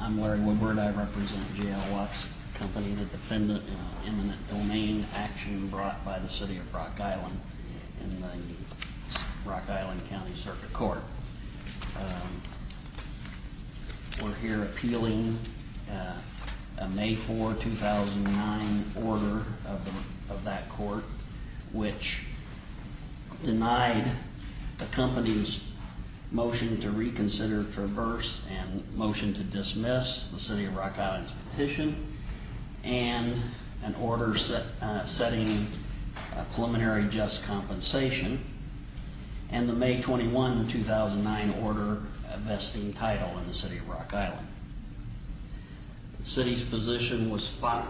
I'm Larry Woodward. I represent J.L. Watts Co., the defendant in an eminent domain action brought by the City of Rock Island in the Rock Island County Circuit Court. We're here appealing a May 4, 2009, order of that court which denied the company's motion to reconsider, traverse, and motion to dismiss the City of Rock Island's petition and an order setting preliminary just compensation and the May 21, 2009, order vesting title in the City of Rock Island. The City's petition was filed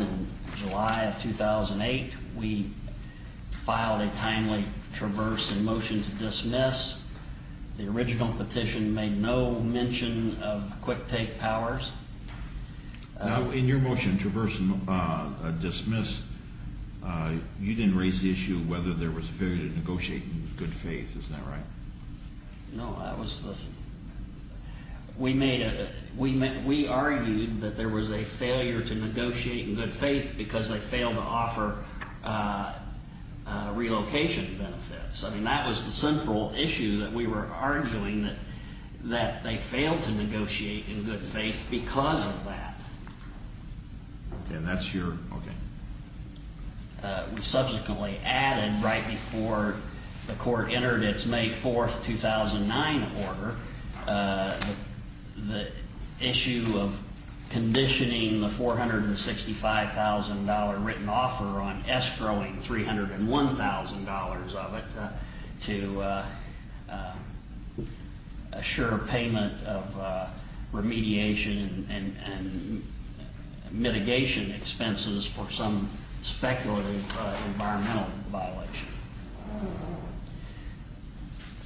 in July of 2008. We filed a timely traverse and motion to dismiss. The original petition made no mention of quick take powers. In your motion to traverse and dismiss, you didn't raise the issue of whether there was a failure to negotiate in good faith. Isn't that right? No. We argued that there was a failure to negotiate in good faith because they failed to offer relocation benefits. I mean, that was the central issue that we were arguing, that they failed to negotiate in good faith because of that. Okay. And that's your, okay.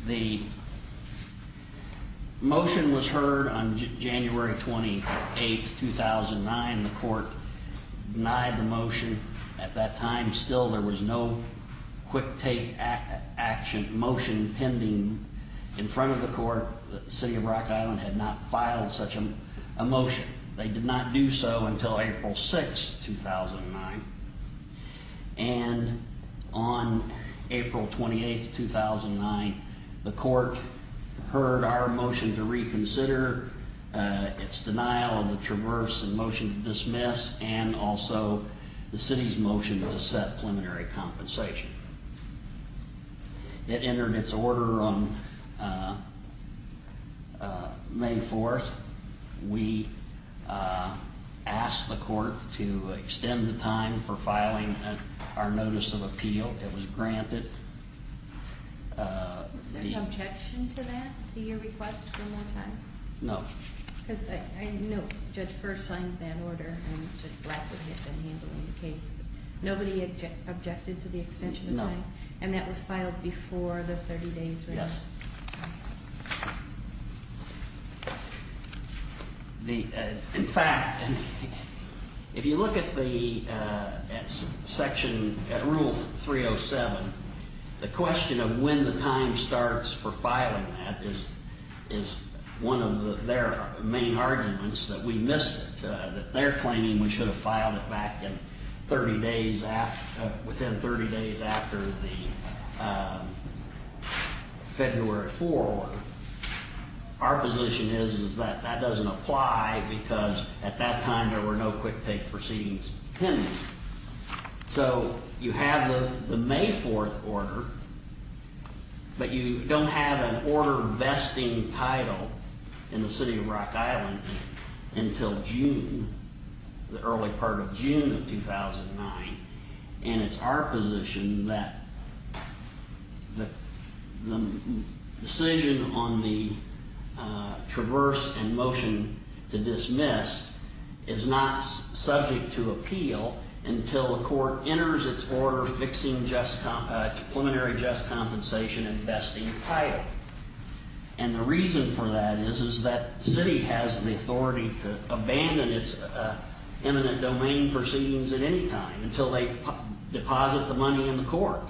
The motion was heard on January 28, 2009. The court denied the motion. At that time, still, there was no quick take action motion pending in front of the court that the City of Rock Island had not filed such a motion. They did not do so until April 6, 2009. And on April 28, 2009, the court heard our motion to reconsider, its denial of the traverse and motion to dismiss, and also the City's motion to set preliminary compensation. It entered its order on May 4. We asked the court to extend the time for filing our notice of appeal. It was granted. Was there an objection to that, to your request for more time? No. Because I know Judge First signed that order, and Judge Blackwood had been handling the case. Nobody objected to the extension of time? No. And that was filed before the 30 days? Yes. In fact, if you look at the section, at Rule 307, the question of when the time starts for filing that is one of their main arguments, that we missed it. They're claiming we should have filed it back within 30 days after the February 4 order. Our position is that that doesn't apply because at that time there were no quick take proceedings pending. So you have the May 4 order, but you don't have an order vesting title in the City of Rock Island until June, the early part of June of 2009. And it's our position that the decision on the traverse and motion to dismiss is not subject to appeal until the court enters its order fixing preliminary just compensation and vesting title. And the reason for that is that the city has the authority to abandon its eminent domain proceedings at any time until they deposit the money in the court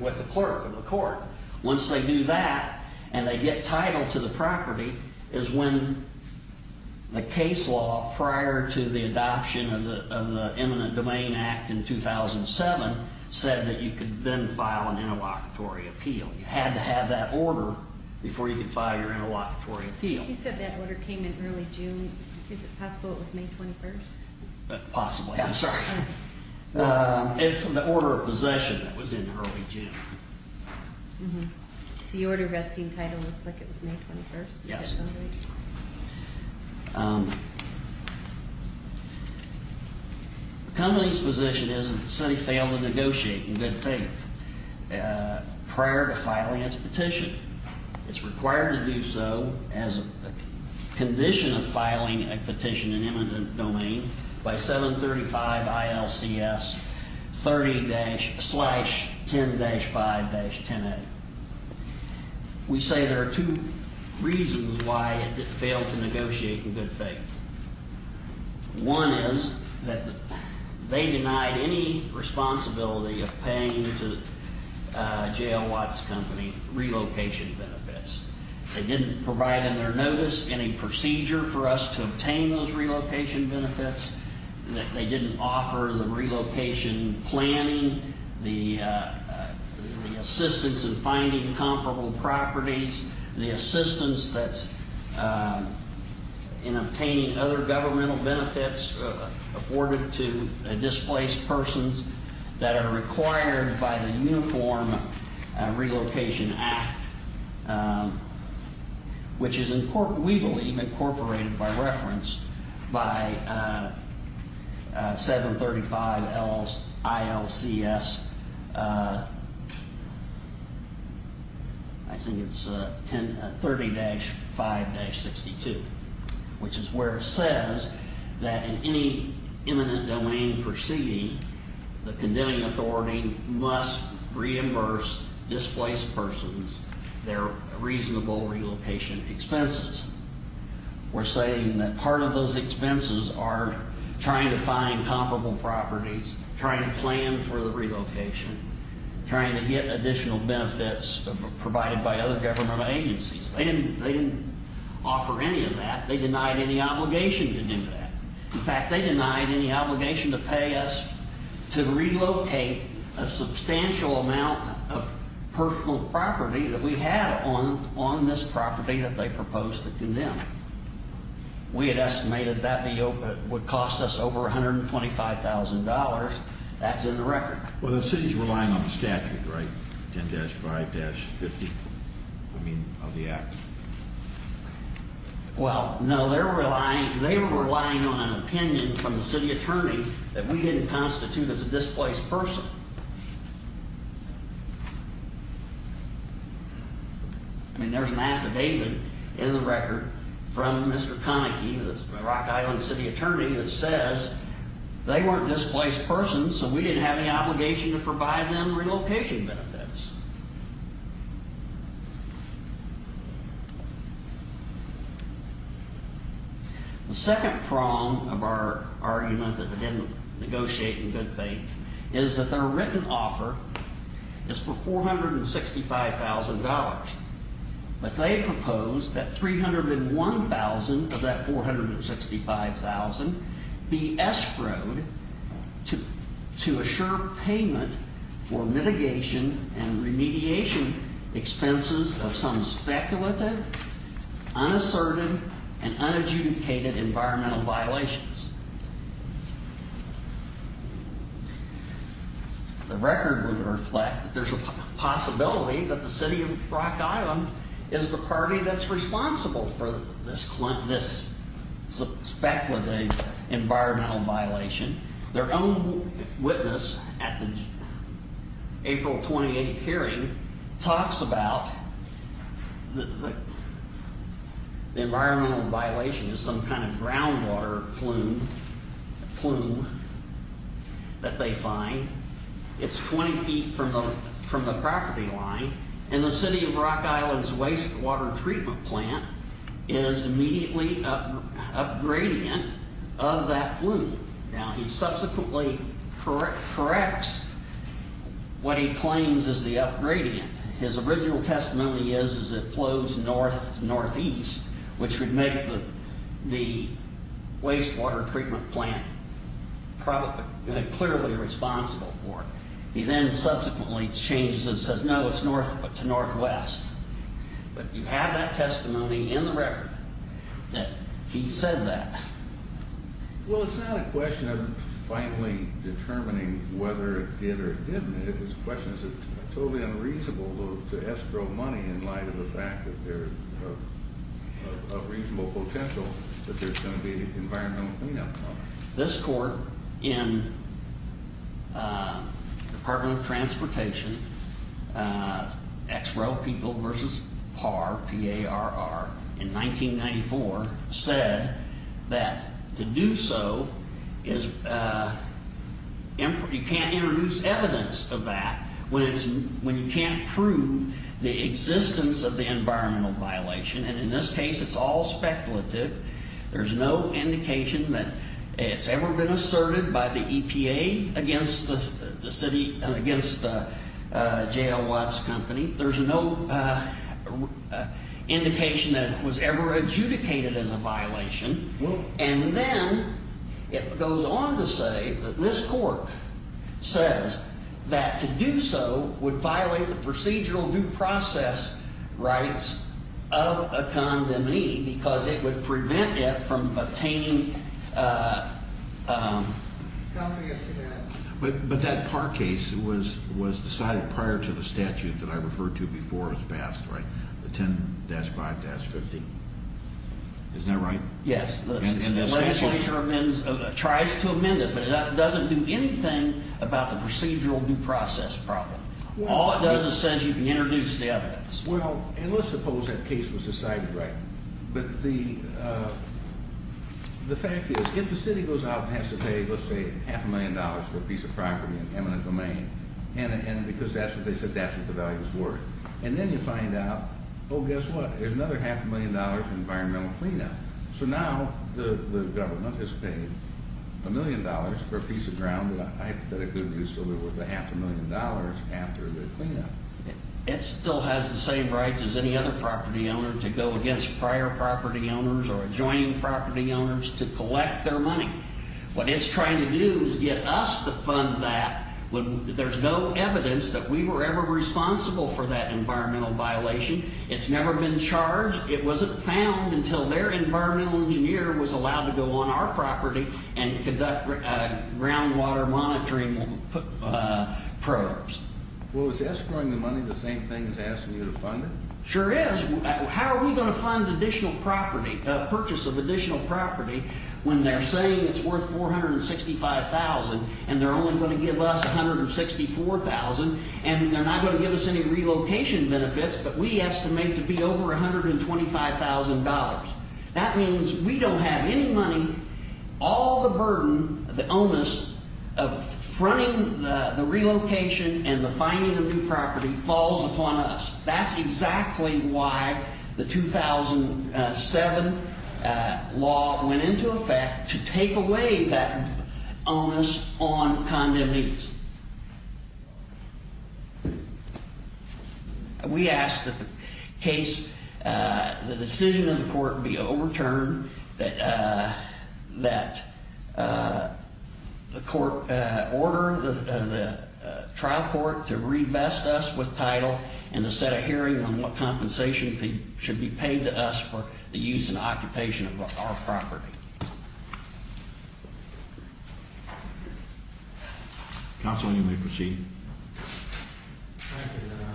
with the clerk of the court. Once they do that and they get title to the property is when the case law prior to the adoption of the Eminent Domain Act in 2007 said that you could then file an interlocutory appeal. You had to have that order before you could file your interlocutory appeal. You said that order came in early June. Is it possible it was May 21? Possibly. I'm sorry. It's the order of possession that was in early June. The order vesting title looks like it was May 21. Yes. The company's position is that the city failed to negotiate in good faith prior to filing its petition. It's required to do so as a condition of filing a petition in eminent domain by 735 ILCS 30-10-5-10A. We say there are two reasons why it failed to negotiate in good faith. One is that they denied any responsibility of paying to J.L. Watts Company relocation benefits. They didn't provide in their notice any procedure for us to obtain those relocation benefits. They didn't offer the relocation planning, the assistance in finding comparable properties, the assistance in obtaining other governmental benefits afforded to displaced persons that are required by the Uniform Relocation Act. Which is, we believe, incorporated by reference by 735 ILCS, I think it's 30-5-62, which is where it says that in any eminent domain proceeding, the condemning authority must reimburse displaced persons their reasonable relocation expenses. We're saying that part of those expenses are trying to find comparable properties, trying to plan for the relocation, trying to get additional benefits provided by other government agencies. They didn't offer any of that. They denied any obligation to do that. In fact, they denied any obligation to pay us to relocate a substantial amount of personal property that we had on this property that they proposed to condemn. We had estimated that would cost us over $125,000. That's in the record. Well, the city's relying on the statute, right? 10-5-50, I mean, of the act. Well, no, they were relying on an opinion from the city attorney that we didn't constitute as a displaced person. I mean, there's an affidavit in the record from Mr. Konecki, the Rock Island City Attorney, that says they weren't displaced persons, so we didn't have any obligation to provide them relocation benefits. The second problem of our argument that they didn't negotiate in good faith is that their written offer is for $465,000. But they proposed that $301,000 of that $465,000 be escrowed to assure payment for mitigation and remediation expenses of some speculative, unassertive, and unadjudicated environmental violations. The record would reflect that there's a possibility that the city of Rock Island is the party that's responsible for this speculative environmental violation. Their own witness at the April 28th hearing talks about the environmental violation as some kind of groundwater flume that they find. It's 20 feet from the property line, and the city of Rock Island's wastewater treatment plant is immediately upgradient of that flume. Now, he subsequently corrects what he claims is the upgradient. His original testimony is that it flows northeast, which would make the wastewater treatment plant clearly responsible for it. He then subsequently changes it and says, no, it's northwest. But you have that testimony in the record that he said that. Well, it's not a question of finally determining whether it did or didn't. His question is, is it totally unreasonable to escrow money in light of the fact that there's a reasonable potential that there's going to be an environmental cleanup problem? This court in the Department of Transportation, XREL People versus PAR, P-A-R-R, in 1994 said that to do so, you can't introduce evidence of that when you can't prove the existence of the environmental violation. And in this case, it's all speculative. There's no indication that it's ever been asserted by the EPA against the city and against J.L. Watts Company. There's no indication that it was ever adjudicated as a violation. And then it goes on to say that this court says that to do so would violate the procedural due process rights of a condemnee because it would prevent it from obtaining. But that PAR case was decided prior to the statute that I referred to before it was passed, right? The 10-5-50. Isn't that right? Yes. And the legislature tries to amend it, but it doesn't do anything about the procedural due process problem. All it does is says you can introduce the evidence. Well, and let's suppose that case was decided, right? But the fact is, if the city goes out and has to pay, let's say, half a million dollars for a piece of property in eminent domain, and because that's what they said that's what the value is worth, and then you find out, oh, guess what? There's another half a million dollars in environmental cleanup. So now the government has paid a million dollars for a piece of ground that it could have used to live with a half a million dollars after the cleanup. It still has the same rights as any other property owner to go against prior property owners or adjoining property owners to collect their money. What it's trying to do is get us to fund that when there's no evidence that we were ever responsible for that environmental violation. It's never been charged. It wasn't found until their environmental engineer was allowed to go on our property and conduct groundwater monitoring probes. Well, is escrowing the money the same thing as asking you to fund it? Sure is. How are we going to fund additional property, purchase of additional property, when they're saying it's worth $465,000 and they're only going to give us $164,000, and they're not going to give us any relocation benefits that we estimate to be over $125,000? That means we don't have any money. All the burden, the onus of fronting the relocation and the finding of new property falls upon us. That's exactly why the 2007 law went into effect to take away that onus on condemnation. We ask that the decision of the court be overturned, that the court order the trial court to revest us with title and to set a hearing on what compensation should be paid to us for the use and occupation of our property. Counsel, you may proceed. Thank you, Your Honor.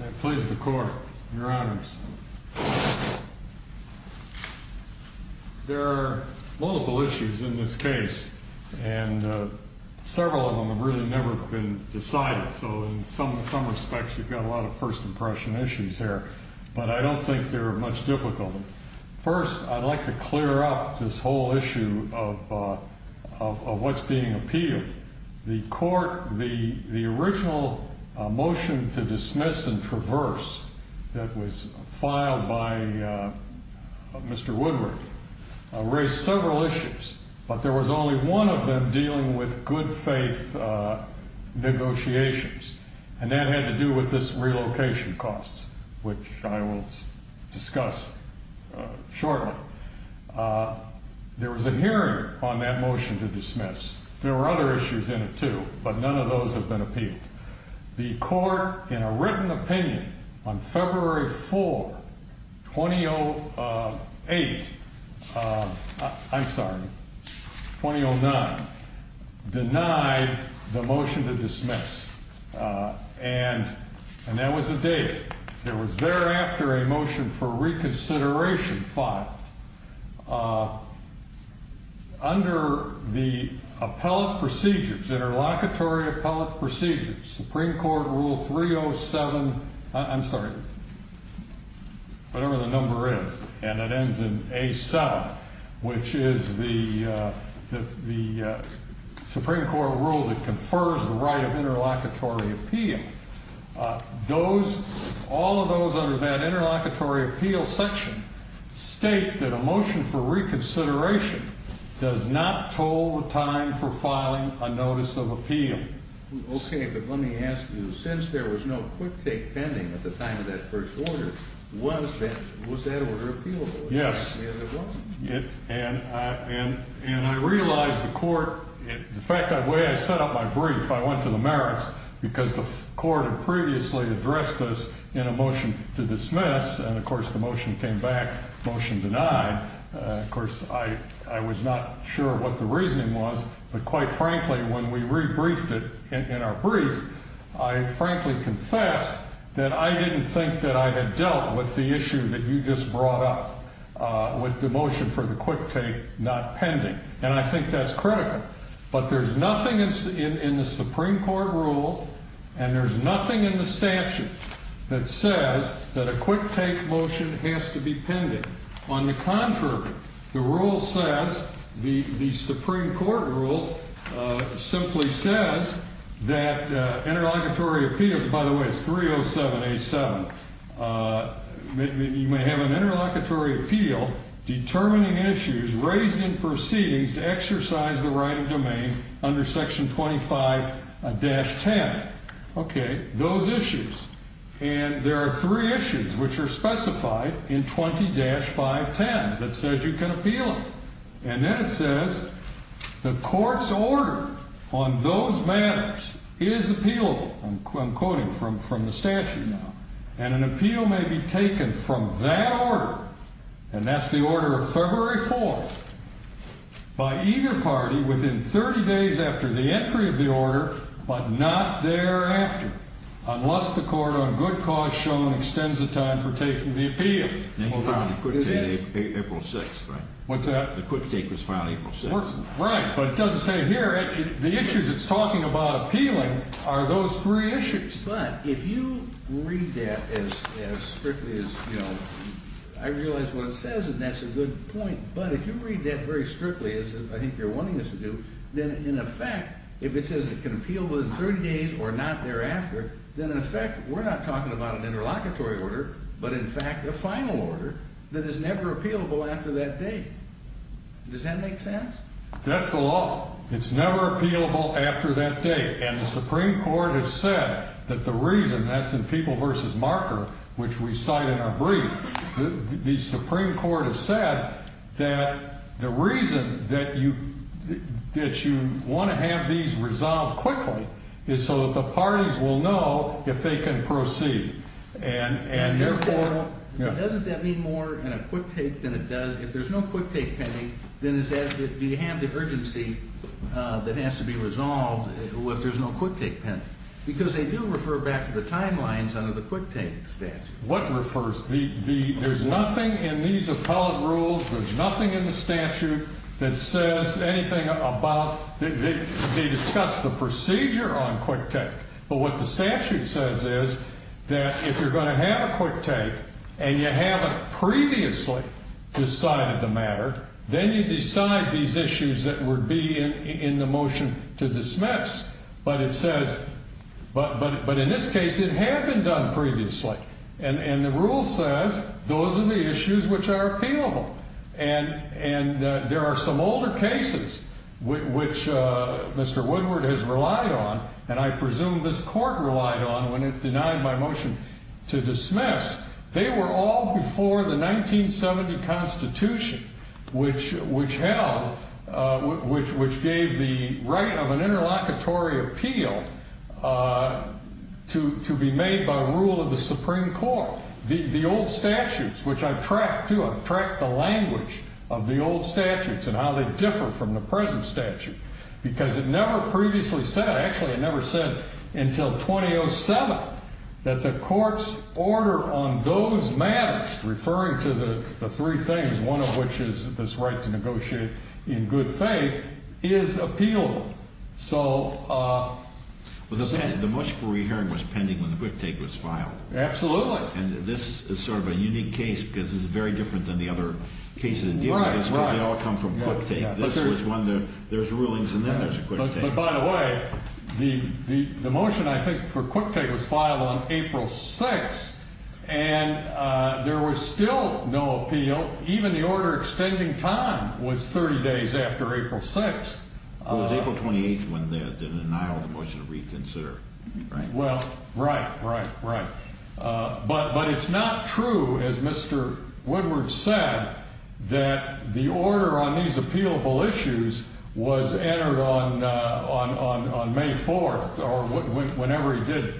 I please the court, Your Honors. There are multiple issues in this case, and several of them have really never been decided, so in some respects we've got a lot of first impression issues here. But I don't think they're much difficult. First, I'd like to clear up this whole issue of what's being appealed. The original motion to dismiss and traverse that was filed by Mr. Woodward raised several issues, but there was only one of them dealing with good faith negotiations, and that had to do with this relocation cost, which I will discuss shortly. There was a hearing on that motion to dismiss. There were other issues in it, too, but none of those have been appealed. The court, in a written opinion, on February 4, 2008, I'm sorry, 2009, denied the motion to dismiss, and that was the date. There was thereafter a motion for reconsideration filed. Under the appellate procedures, interlocutory appellate procedures, Supreme Court Rule 307, I'm sorry, whatever the number is, and it ends in A7, which is the Supreme Court rule that confers the right of interlocutory appeal. All of those under that interlocutory appeal section state that a motion for reconsideration does not toll the time for filing a notice of appeal. Okay, but let me ask you, since there was no quick take pending at the time of that first order, was that order appealable? Yes. And it was. And I realized the court, the fact, the way I set up my brief, I went to the merits, because the court had previously addressed this in a motion to dismiss, and, of course, the motion came back, motion denied. Of course, I was not sure what the reasoning was, but quite frankly, when we rebriefed it in our brief, I frankly confessed that I didn't think that I had dealt with the issue that you just brought up with the motion for the quick take not pending. And I think that's critical. But there's nothing in the Supreme Court rule, and there's nothing in the statute that says that a quick take motion has to be pending. On the contrary, the rule says, the Supreme Court rule simply says that interlocutory appeals, by the way, it's 307A7, you may have an interlocutory appeal determining issues raised in proceedings to exercise the right of domain under section 25-10. Okay, those issues. And there are three issues which are specified in 20-510 that says you can appeal them. And then it says, the court's order on those matters is appealable, I'm quoting from the statute now, and an appeal may be taken from that order, and that's the order of February 4th, by either party within 30 days after the entry of the order, but not thereafter, unless the court on good cause shown extends the time for taking the appeal. April 6th, right? What's that? The quick take was filed April 6th. Right, but it doesn't say it here. The issues it's talking about appealing are those three issues. But if you read that as strictly as, you know, I realize what it says and that's a good point, but if you read that very strictly as I think you're wanting us to do, then in effect, if it says it can appeal within 30 days or not thereafter, then in effect we're not talking about an interlocutory order, but in fact a final order that is never appealable after that date. Does that make sense? That's the law. It's never appealable after that date, and the Supreme Court has said that the reason, that's in People v. Marker, which we cite in our brief, the Supreme Court has said that the reason that you want to have these resolved quickly is so that the parties will know if they can proceed. Doesn't that mean more in a quick take than it does, if there's no quick take pending, then do you have the urgency that has to be resolved if there's no quick take pending? Because they do refer back to the timelines under the quick take statute. There's nothing in these appellate rules, there's nothing in the statute that says anything about, they discuss the procedure on quick take, but what the statute says is that if you're going to have a quick take and you haven't previously decided the matter, then you decide these issues that would be in the motion to dismiss, but it says, but in this case it had been done previously. And the rule says those are the issues which are appealable, and there are some older cases which Mr. Woodward has relied on, and I presume this court relied on when it denied my motion to dismiss. They were all before the 1970 Constitution, which gave the right of an interlocutory appeal to be made by rule of the Supreme Court. The old statutes, which I've tracked too, I've tracked the language of the old statutes and how they differ from the present statute, because it never previously said, actually it never said until 2007, that the court's order on those matters, referring to the three things, one of which is this right to negotiate in good faith, is appealable. The motion for re-hearing was pending when the quick take was filed. Absolutely. And this is sort of a unique case, because this is very different than the other cases in dealing with this, because they all come from quick take. There's rulings and then there's a quick take. But by the way, the motion I think for quick take was filed on April 6th, and there was still no appeal. Even the order extending time was 30 days after April 6th. It was April 28th when they annulled the motion to reconsider, right? Well, right, right, right. But it's not true, as Mr. Woodward said, that the order on these appealable issues was entered on May 4th or whenever he did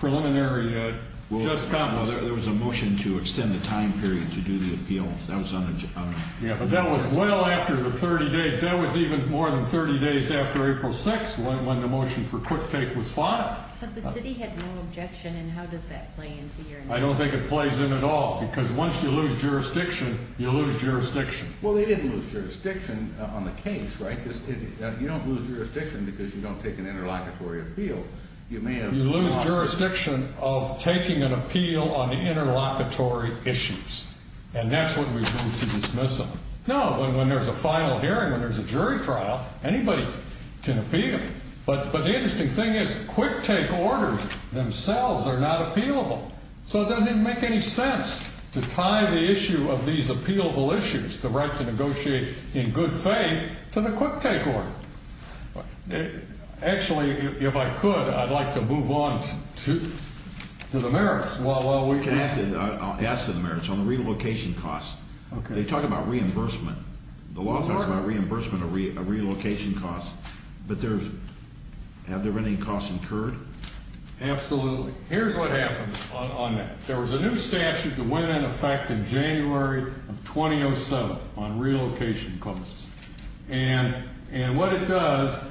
preliminary just comments. Well, there was a motion to extend the time period to do the appeal. Yeah, but that was well after the 30 days. That was even more than 30 days after April 6th when the motion for quick take was filed. But the city had no objection, and how does that play into your... I don't think it plays in at all, because once you lose jurisdiction, you lose jurisdiction. Well, they didn't lose jurisdiction on the case, right? You don't lose jurisdiction because you don't take an interlocutory appeal. You lose jurisdiction of taking an appeal on the interlocutory issues, and that's when we move to dismiss them. No, when there's a final hearing, when there's a jury trial, anybody can appeal. But the interesting thing is quick take orders themselves are not appealable. So it doesn't even make any sense to tie the issue of these appealable issues, the right to negotiate in good faith, to the quick take order. Actually, if I could, I'd like to move on to the merits while we can. I'll ask for the merits on the relocation costs. They talk about reimbursement. The law talks about reimbursement of relocation costs, but have there been any costs incurred? Absolutely. Here's what happened on that. There was a new statute that went into effect in January of 2007 on relocation costs. And what it does,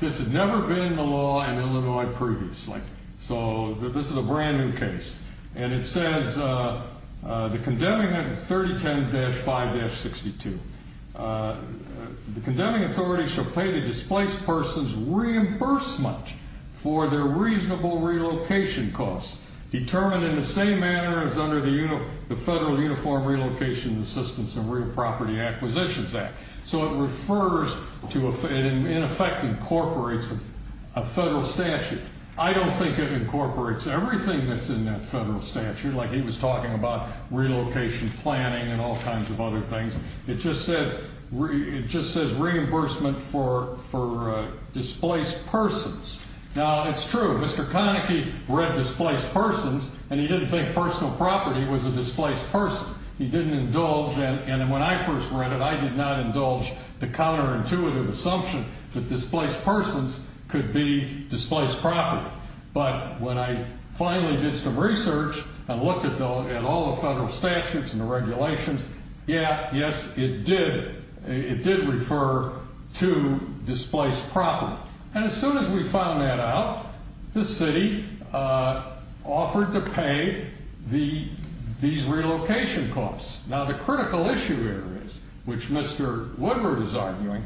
this had never been in the law in Illinois previously, so this is a brand new case. And it says the condemning 3010-5-62, the condemning authority shall pay the displaced person's reimbursement for their reasonable relocation costs, determined in the same manner as under the Federal Uniform Relocation Assistance and Real Property Acquisitions Act. So it refers to, in effect, incorporates a federal statute. I don't think it incorporates everything that's in that federal statute, like he was talking about relocation planning and all kinds of other things. It just says reimbursement for displaced persons. Now, it's true, Mr. Konecki read displaced persons, and he didn't think personal property was a displaced person. He didn't indulge, and when I first read it, I did not indulge the counterintuitive assumption that displaced persons could be displaced property. But when I finally did some research and looked at all the federal statutes and the regulations, yeah, yes, it did refer to displaced property. Now, and as soon as we found that out, the city offered to pay these relocation costs. Now, the critical issue here is, which Mr. Woodward is arguing,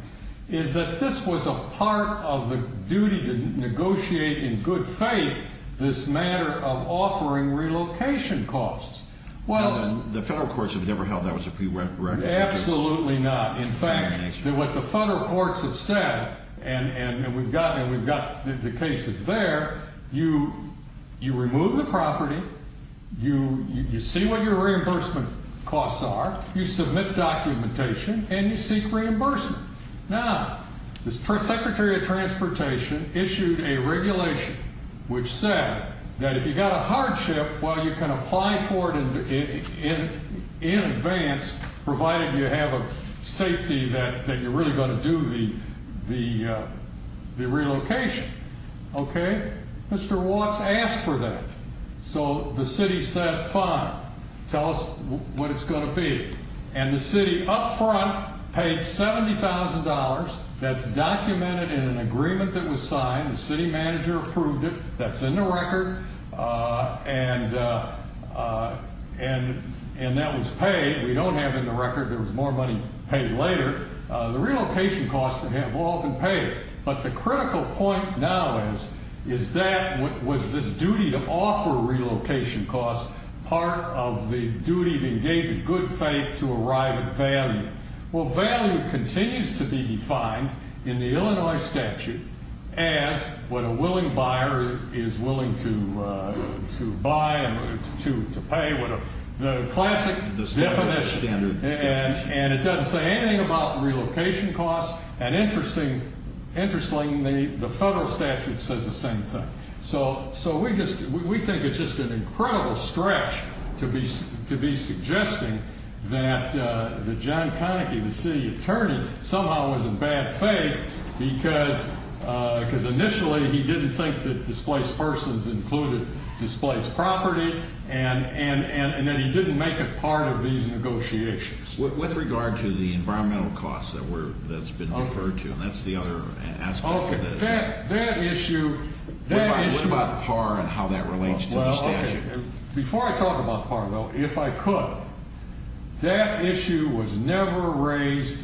is that this was a part of the duty to negotiate in good faith this matter of offering relocation costs. Well, the federal courts have never held that was a prerequisite. Absolutely not. In fact, what the federal courts have said, and we've got the cases there, you remove the property, you see what your reimbursement costs are, you submit documentation, and you seek reimbursement. Now, the Secretary of Transportation issued a regulation which said that if you've got a hardship, well, you can apply for it in advance, provided you have a safety that you're really going to do the relocation. Okay? Mr. Watts asked for that. So the city said, fine, tell us what it's going to be. And the city up front paid $70,000. That's documented in an agreement that was signed. The city manager approved it. That's in the record. And that was paid. We don't have it in the record. There was more money paid later. The relocation costs that have often paid. But the critical point now is, is that was this duty to offer relocation costs part of the duty to engage in good faith to arrive at value? Well, value continues to be defined in the Illinois statute as what a willing buyer is willing to buy and to pay, the classic definition. And it doesn't say anything about relocation costs. And interestingly, the federal statute says the same thing. So we think it's just an incredible stretch to be suggesting that John Konecki, the city attorney, somehow was in bad faith because initially he didn't think that displaced persons included displaced property, and that he didn't make it part of these negotiations. With regard to the environmental costs that's been referred to, and that's the other aspect of this. What about PAR and how that relates to the statute? Before I talk about PAR, though, if I could, that issue was never raised.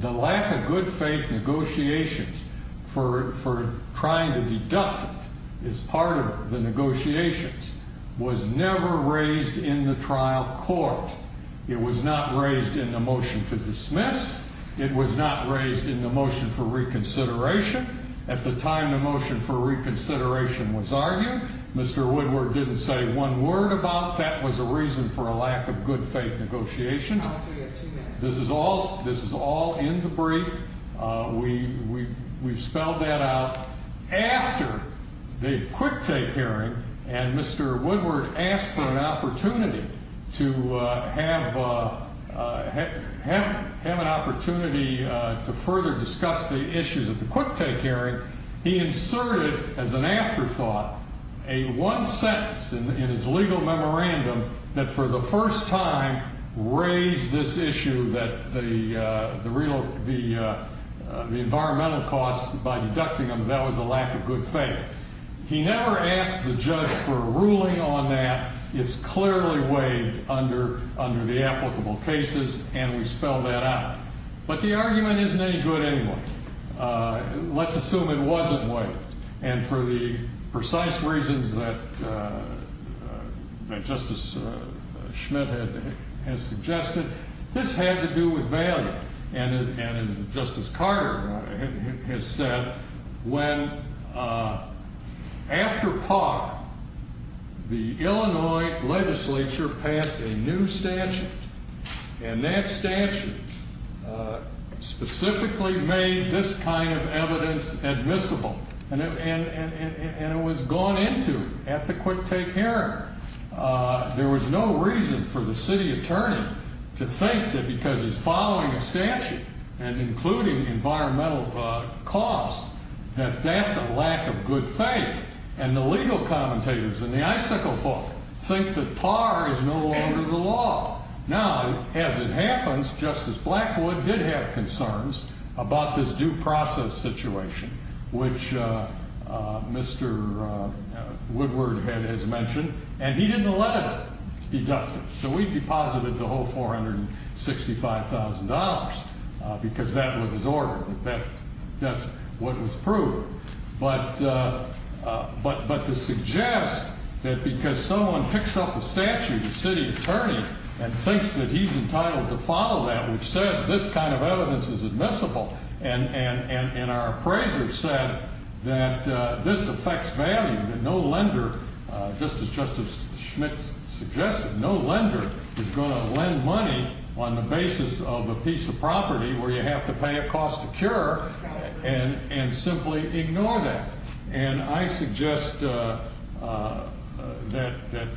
The lack of good faith negotiations for trying to deduct it as part of the negotiations was never raised in the trial court. It was not raised in the motion to dismiss. It was not raised in the motion for reconsideration. At the time the motion for reconsideration was argued, Mr. Woodward didn't say one word about that was a reason for a lack of good faith negotiation. This is all in the brief. We've spelled that out. After the quick take hearing and Mr. Woodward asked for an opportunity to have an opportunity to further discuss the issues at the quick take hearing, he inserted as an afterthought a one sentence in his legal memorandum that for the first time raised this issue that the environmental costs by deducting them, that was a lack of good faith. He never asked the judge for a ruling on that. It's clearly weighed under the applicable cases, and we've spelled that out. But the argument isn't any good anyway. Let's assume it wasn't weighed. And for the precise reasons that Justice Schmidt has suggested, this had to do with value. And as Justice Carter has said, when after par, the Illinois legislature passed a new statute, and that statute specifically made this kind of evidence admissible, and it was gone into at the quick take hearing. There was no reason for the city attorney to think that because he's following a statute, and including environmental costs, that that's a lack of good faith. And the legal commentators in the icicle book think that par is no longer the law. Now, as it happens, Justice Blackwood did have concerns about this due process situation, which Mr. Woodward has mentioned, and he didn't let us deduct it. So we deposited the whole $465,000 because that was his order. That's what was proved. But to suggest that because someone picks up a statute, a city attorney, and thinks that he's entitled to follow that, which says this kind of evidence is admissible, and our appraiser said that this affects value, that no lender, just as Justice Schmidt suggested, no lender is going to lend money on the basis of a piece of property where you have to pay a cost to cure and simply ignore that. And I suggest that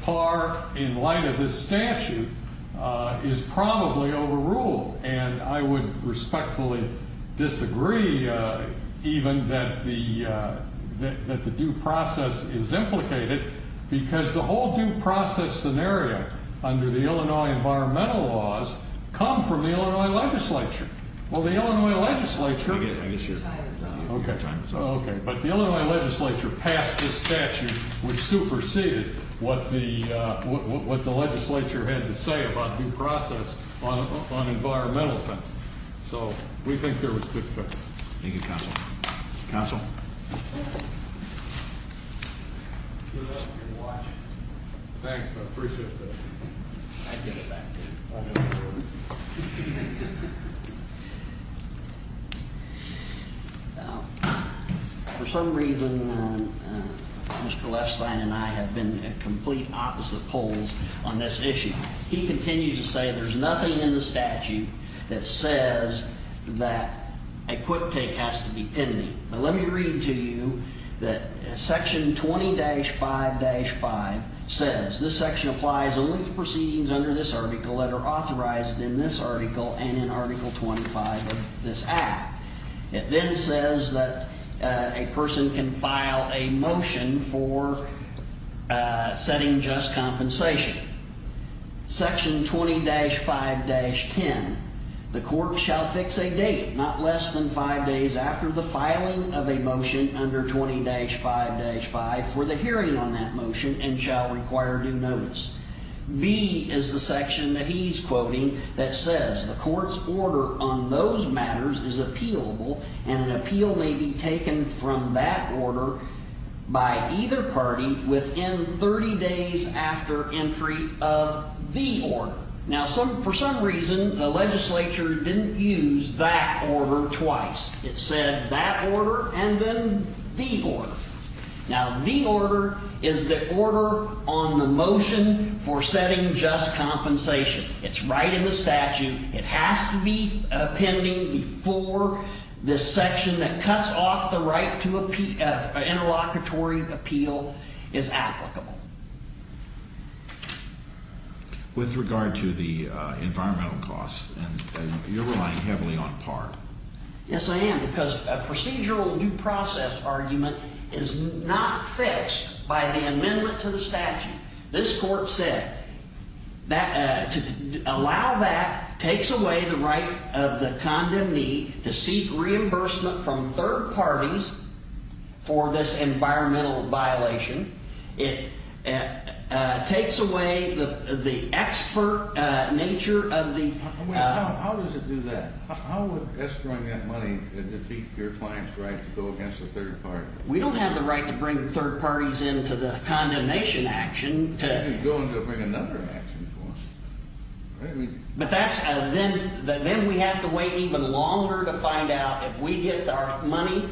par in light of this statute is probably overruled, and I would respectfully disagree even that the due process is implicated because the whole due process scenario under the Illinois environmental laws come from the Illinois legislature. Well, the Illinois legislature... I guess your time is up. Okay, but the Illinois legislature passed this statute which superseded what the legislature had to say about due process on environmental things. So we think there was good faith. Thank you, Counsel. Counsel? Good luck, and watch. Thanks, I appreciate it. I'd get it back to you. For some reason, Mr. Lefstein and I have been at complete opposite polls on this issue. He continues to say there's nothing in the statute that says that a quick take has to be pending. Now, let me read to you that Section 20-5-5 says this section applies only to proceedings under this article that are authorized in this article and in Article 25 of this Act. It then says that a person can file a motion for setting just compensation. Section 20-5-10, the court shall fix a date not less than five days after the filing of a motion under 20-5-5 for the hearing on that motion and shall require due notice. B is the section that he's quoting that says the court's order on those matters is appealable and an appeal may be taken from that order by either party within 30 days after entry of the order. Now, for some reason, the legislature didn't use that order twice. It said that order and then the order. Now, the order is the order on the motion for setting just compensation. It's right in the statute. It has to be pending before this section that cuts off the right to an interlocutory appeal is applicable. With regard to the environmental costs, you're relying heavily on PAR. Yes, I am, because a procedural due process argument is not fixed by the amendment to the statute. This court said that to allow that takes away the right of the condemned to seek reimbursement from third parties for this environmental violation. It takes away the expert nature of the… You're just throwing that money to defeat your client's right to go against a third party. We don't have the right to bring third parties into the condemnation action to… You're going to bring another action for them. But that's – then we have to wait even longer to find out if we get our money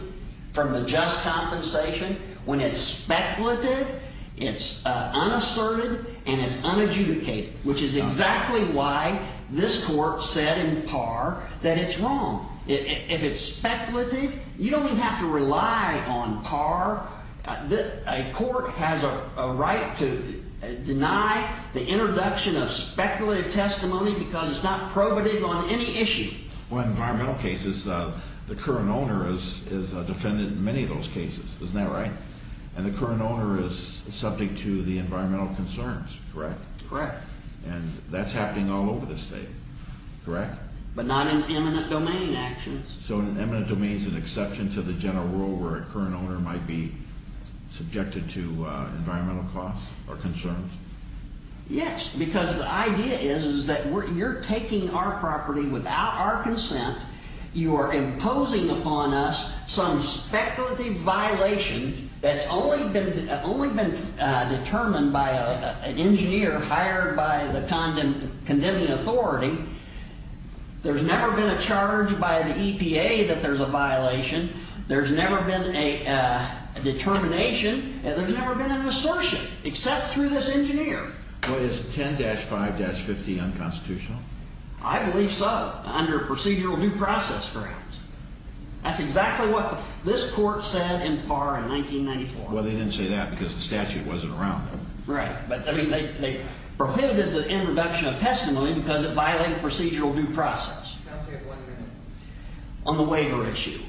from the just compensation when it's speculative, it's unasserted, and it's unadjudicated, which is exactly why this court said in PAR that it's wrong. If it's speculative, you don't even have to rely on PAR. A court has a right to deny the introduction of speculative testimony because it's not probative on any issue. Well, environmental cases, the current owner is a defendant in many of those cases. Isn't that right? And the current owner is subject to the environmental concerns, correct? Correct. And that's happening all over the state, correct? But not in eminent domain actions. So an eminent domain is an exception to the general rule where a current owner might be subjected to environmental costs or concerns? Yes, because the idea is that you're taking our property without our consent. You are imposing upon us some speculative violation that's only been determined by an engineer hired by the condemning authority. There's never been a charge by the EPA that there's a violation. There's never been a determination. There's never been an assertion except through this engineer. Well, is 10-5-50 unconstitutional? I believe so, under procedural due process grounds. That's exactly what this court said in PAR in 1994. Well, they didn't say that because the statute wasn't around then. Right. But, I mean, they prohibited the introduction of testimony because it violated procedural due process. Counsel, you have one minute. On the waiver issue,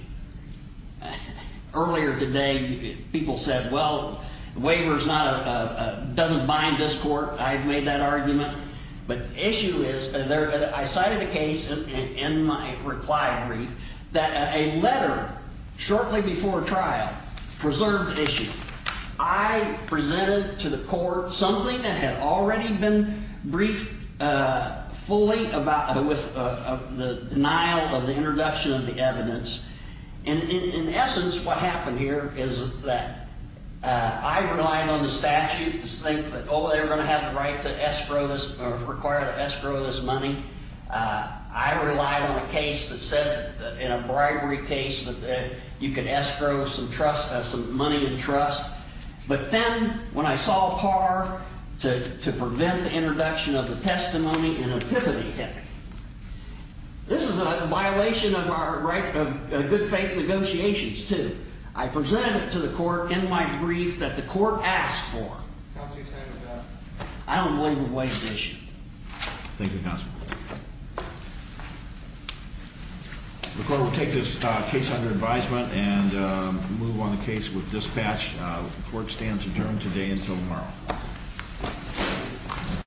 earlier today people said, well, the waiver doesn't bind this court. I've made that argument. But the issue is I cited a case in my reply brief that a letter shortly before trial preserved the issue. I presented to the court something that had already been briefed fully about the denial of the introduction of the evidence. And, in essence, what happened here is that I relied on the statute to think that, oh, they were going to have the right to escrow this or require the escrow of this money. I relied on a case that said, in a bribery case, that you could escrow some money in trust. But then, when I saw PAR to prevent the introduction of the testimony, an epiphany hit me. This is a violation of our right of good faith negotiations, too. I presented it to the court in my brief that the court asked for. Counsel, your time is up. I don't believe the waiver issue. Thank you, Counsel. The court will take this case under advisement and move on the case with dispatch. The court stands adjourned today until tomorrow.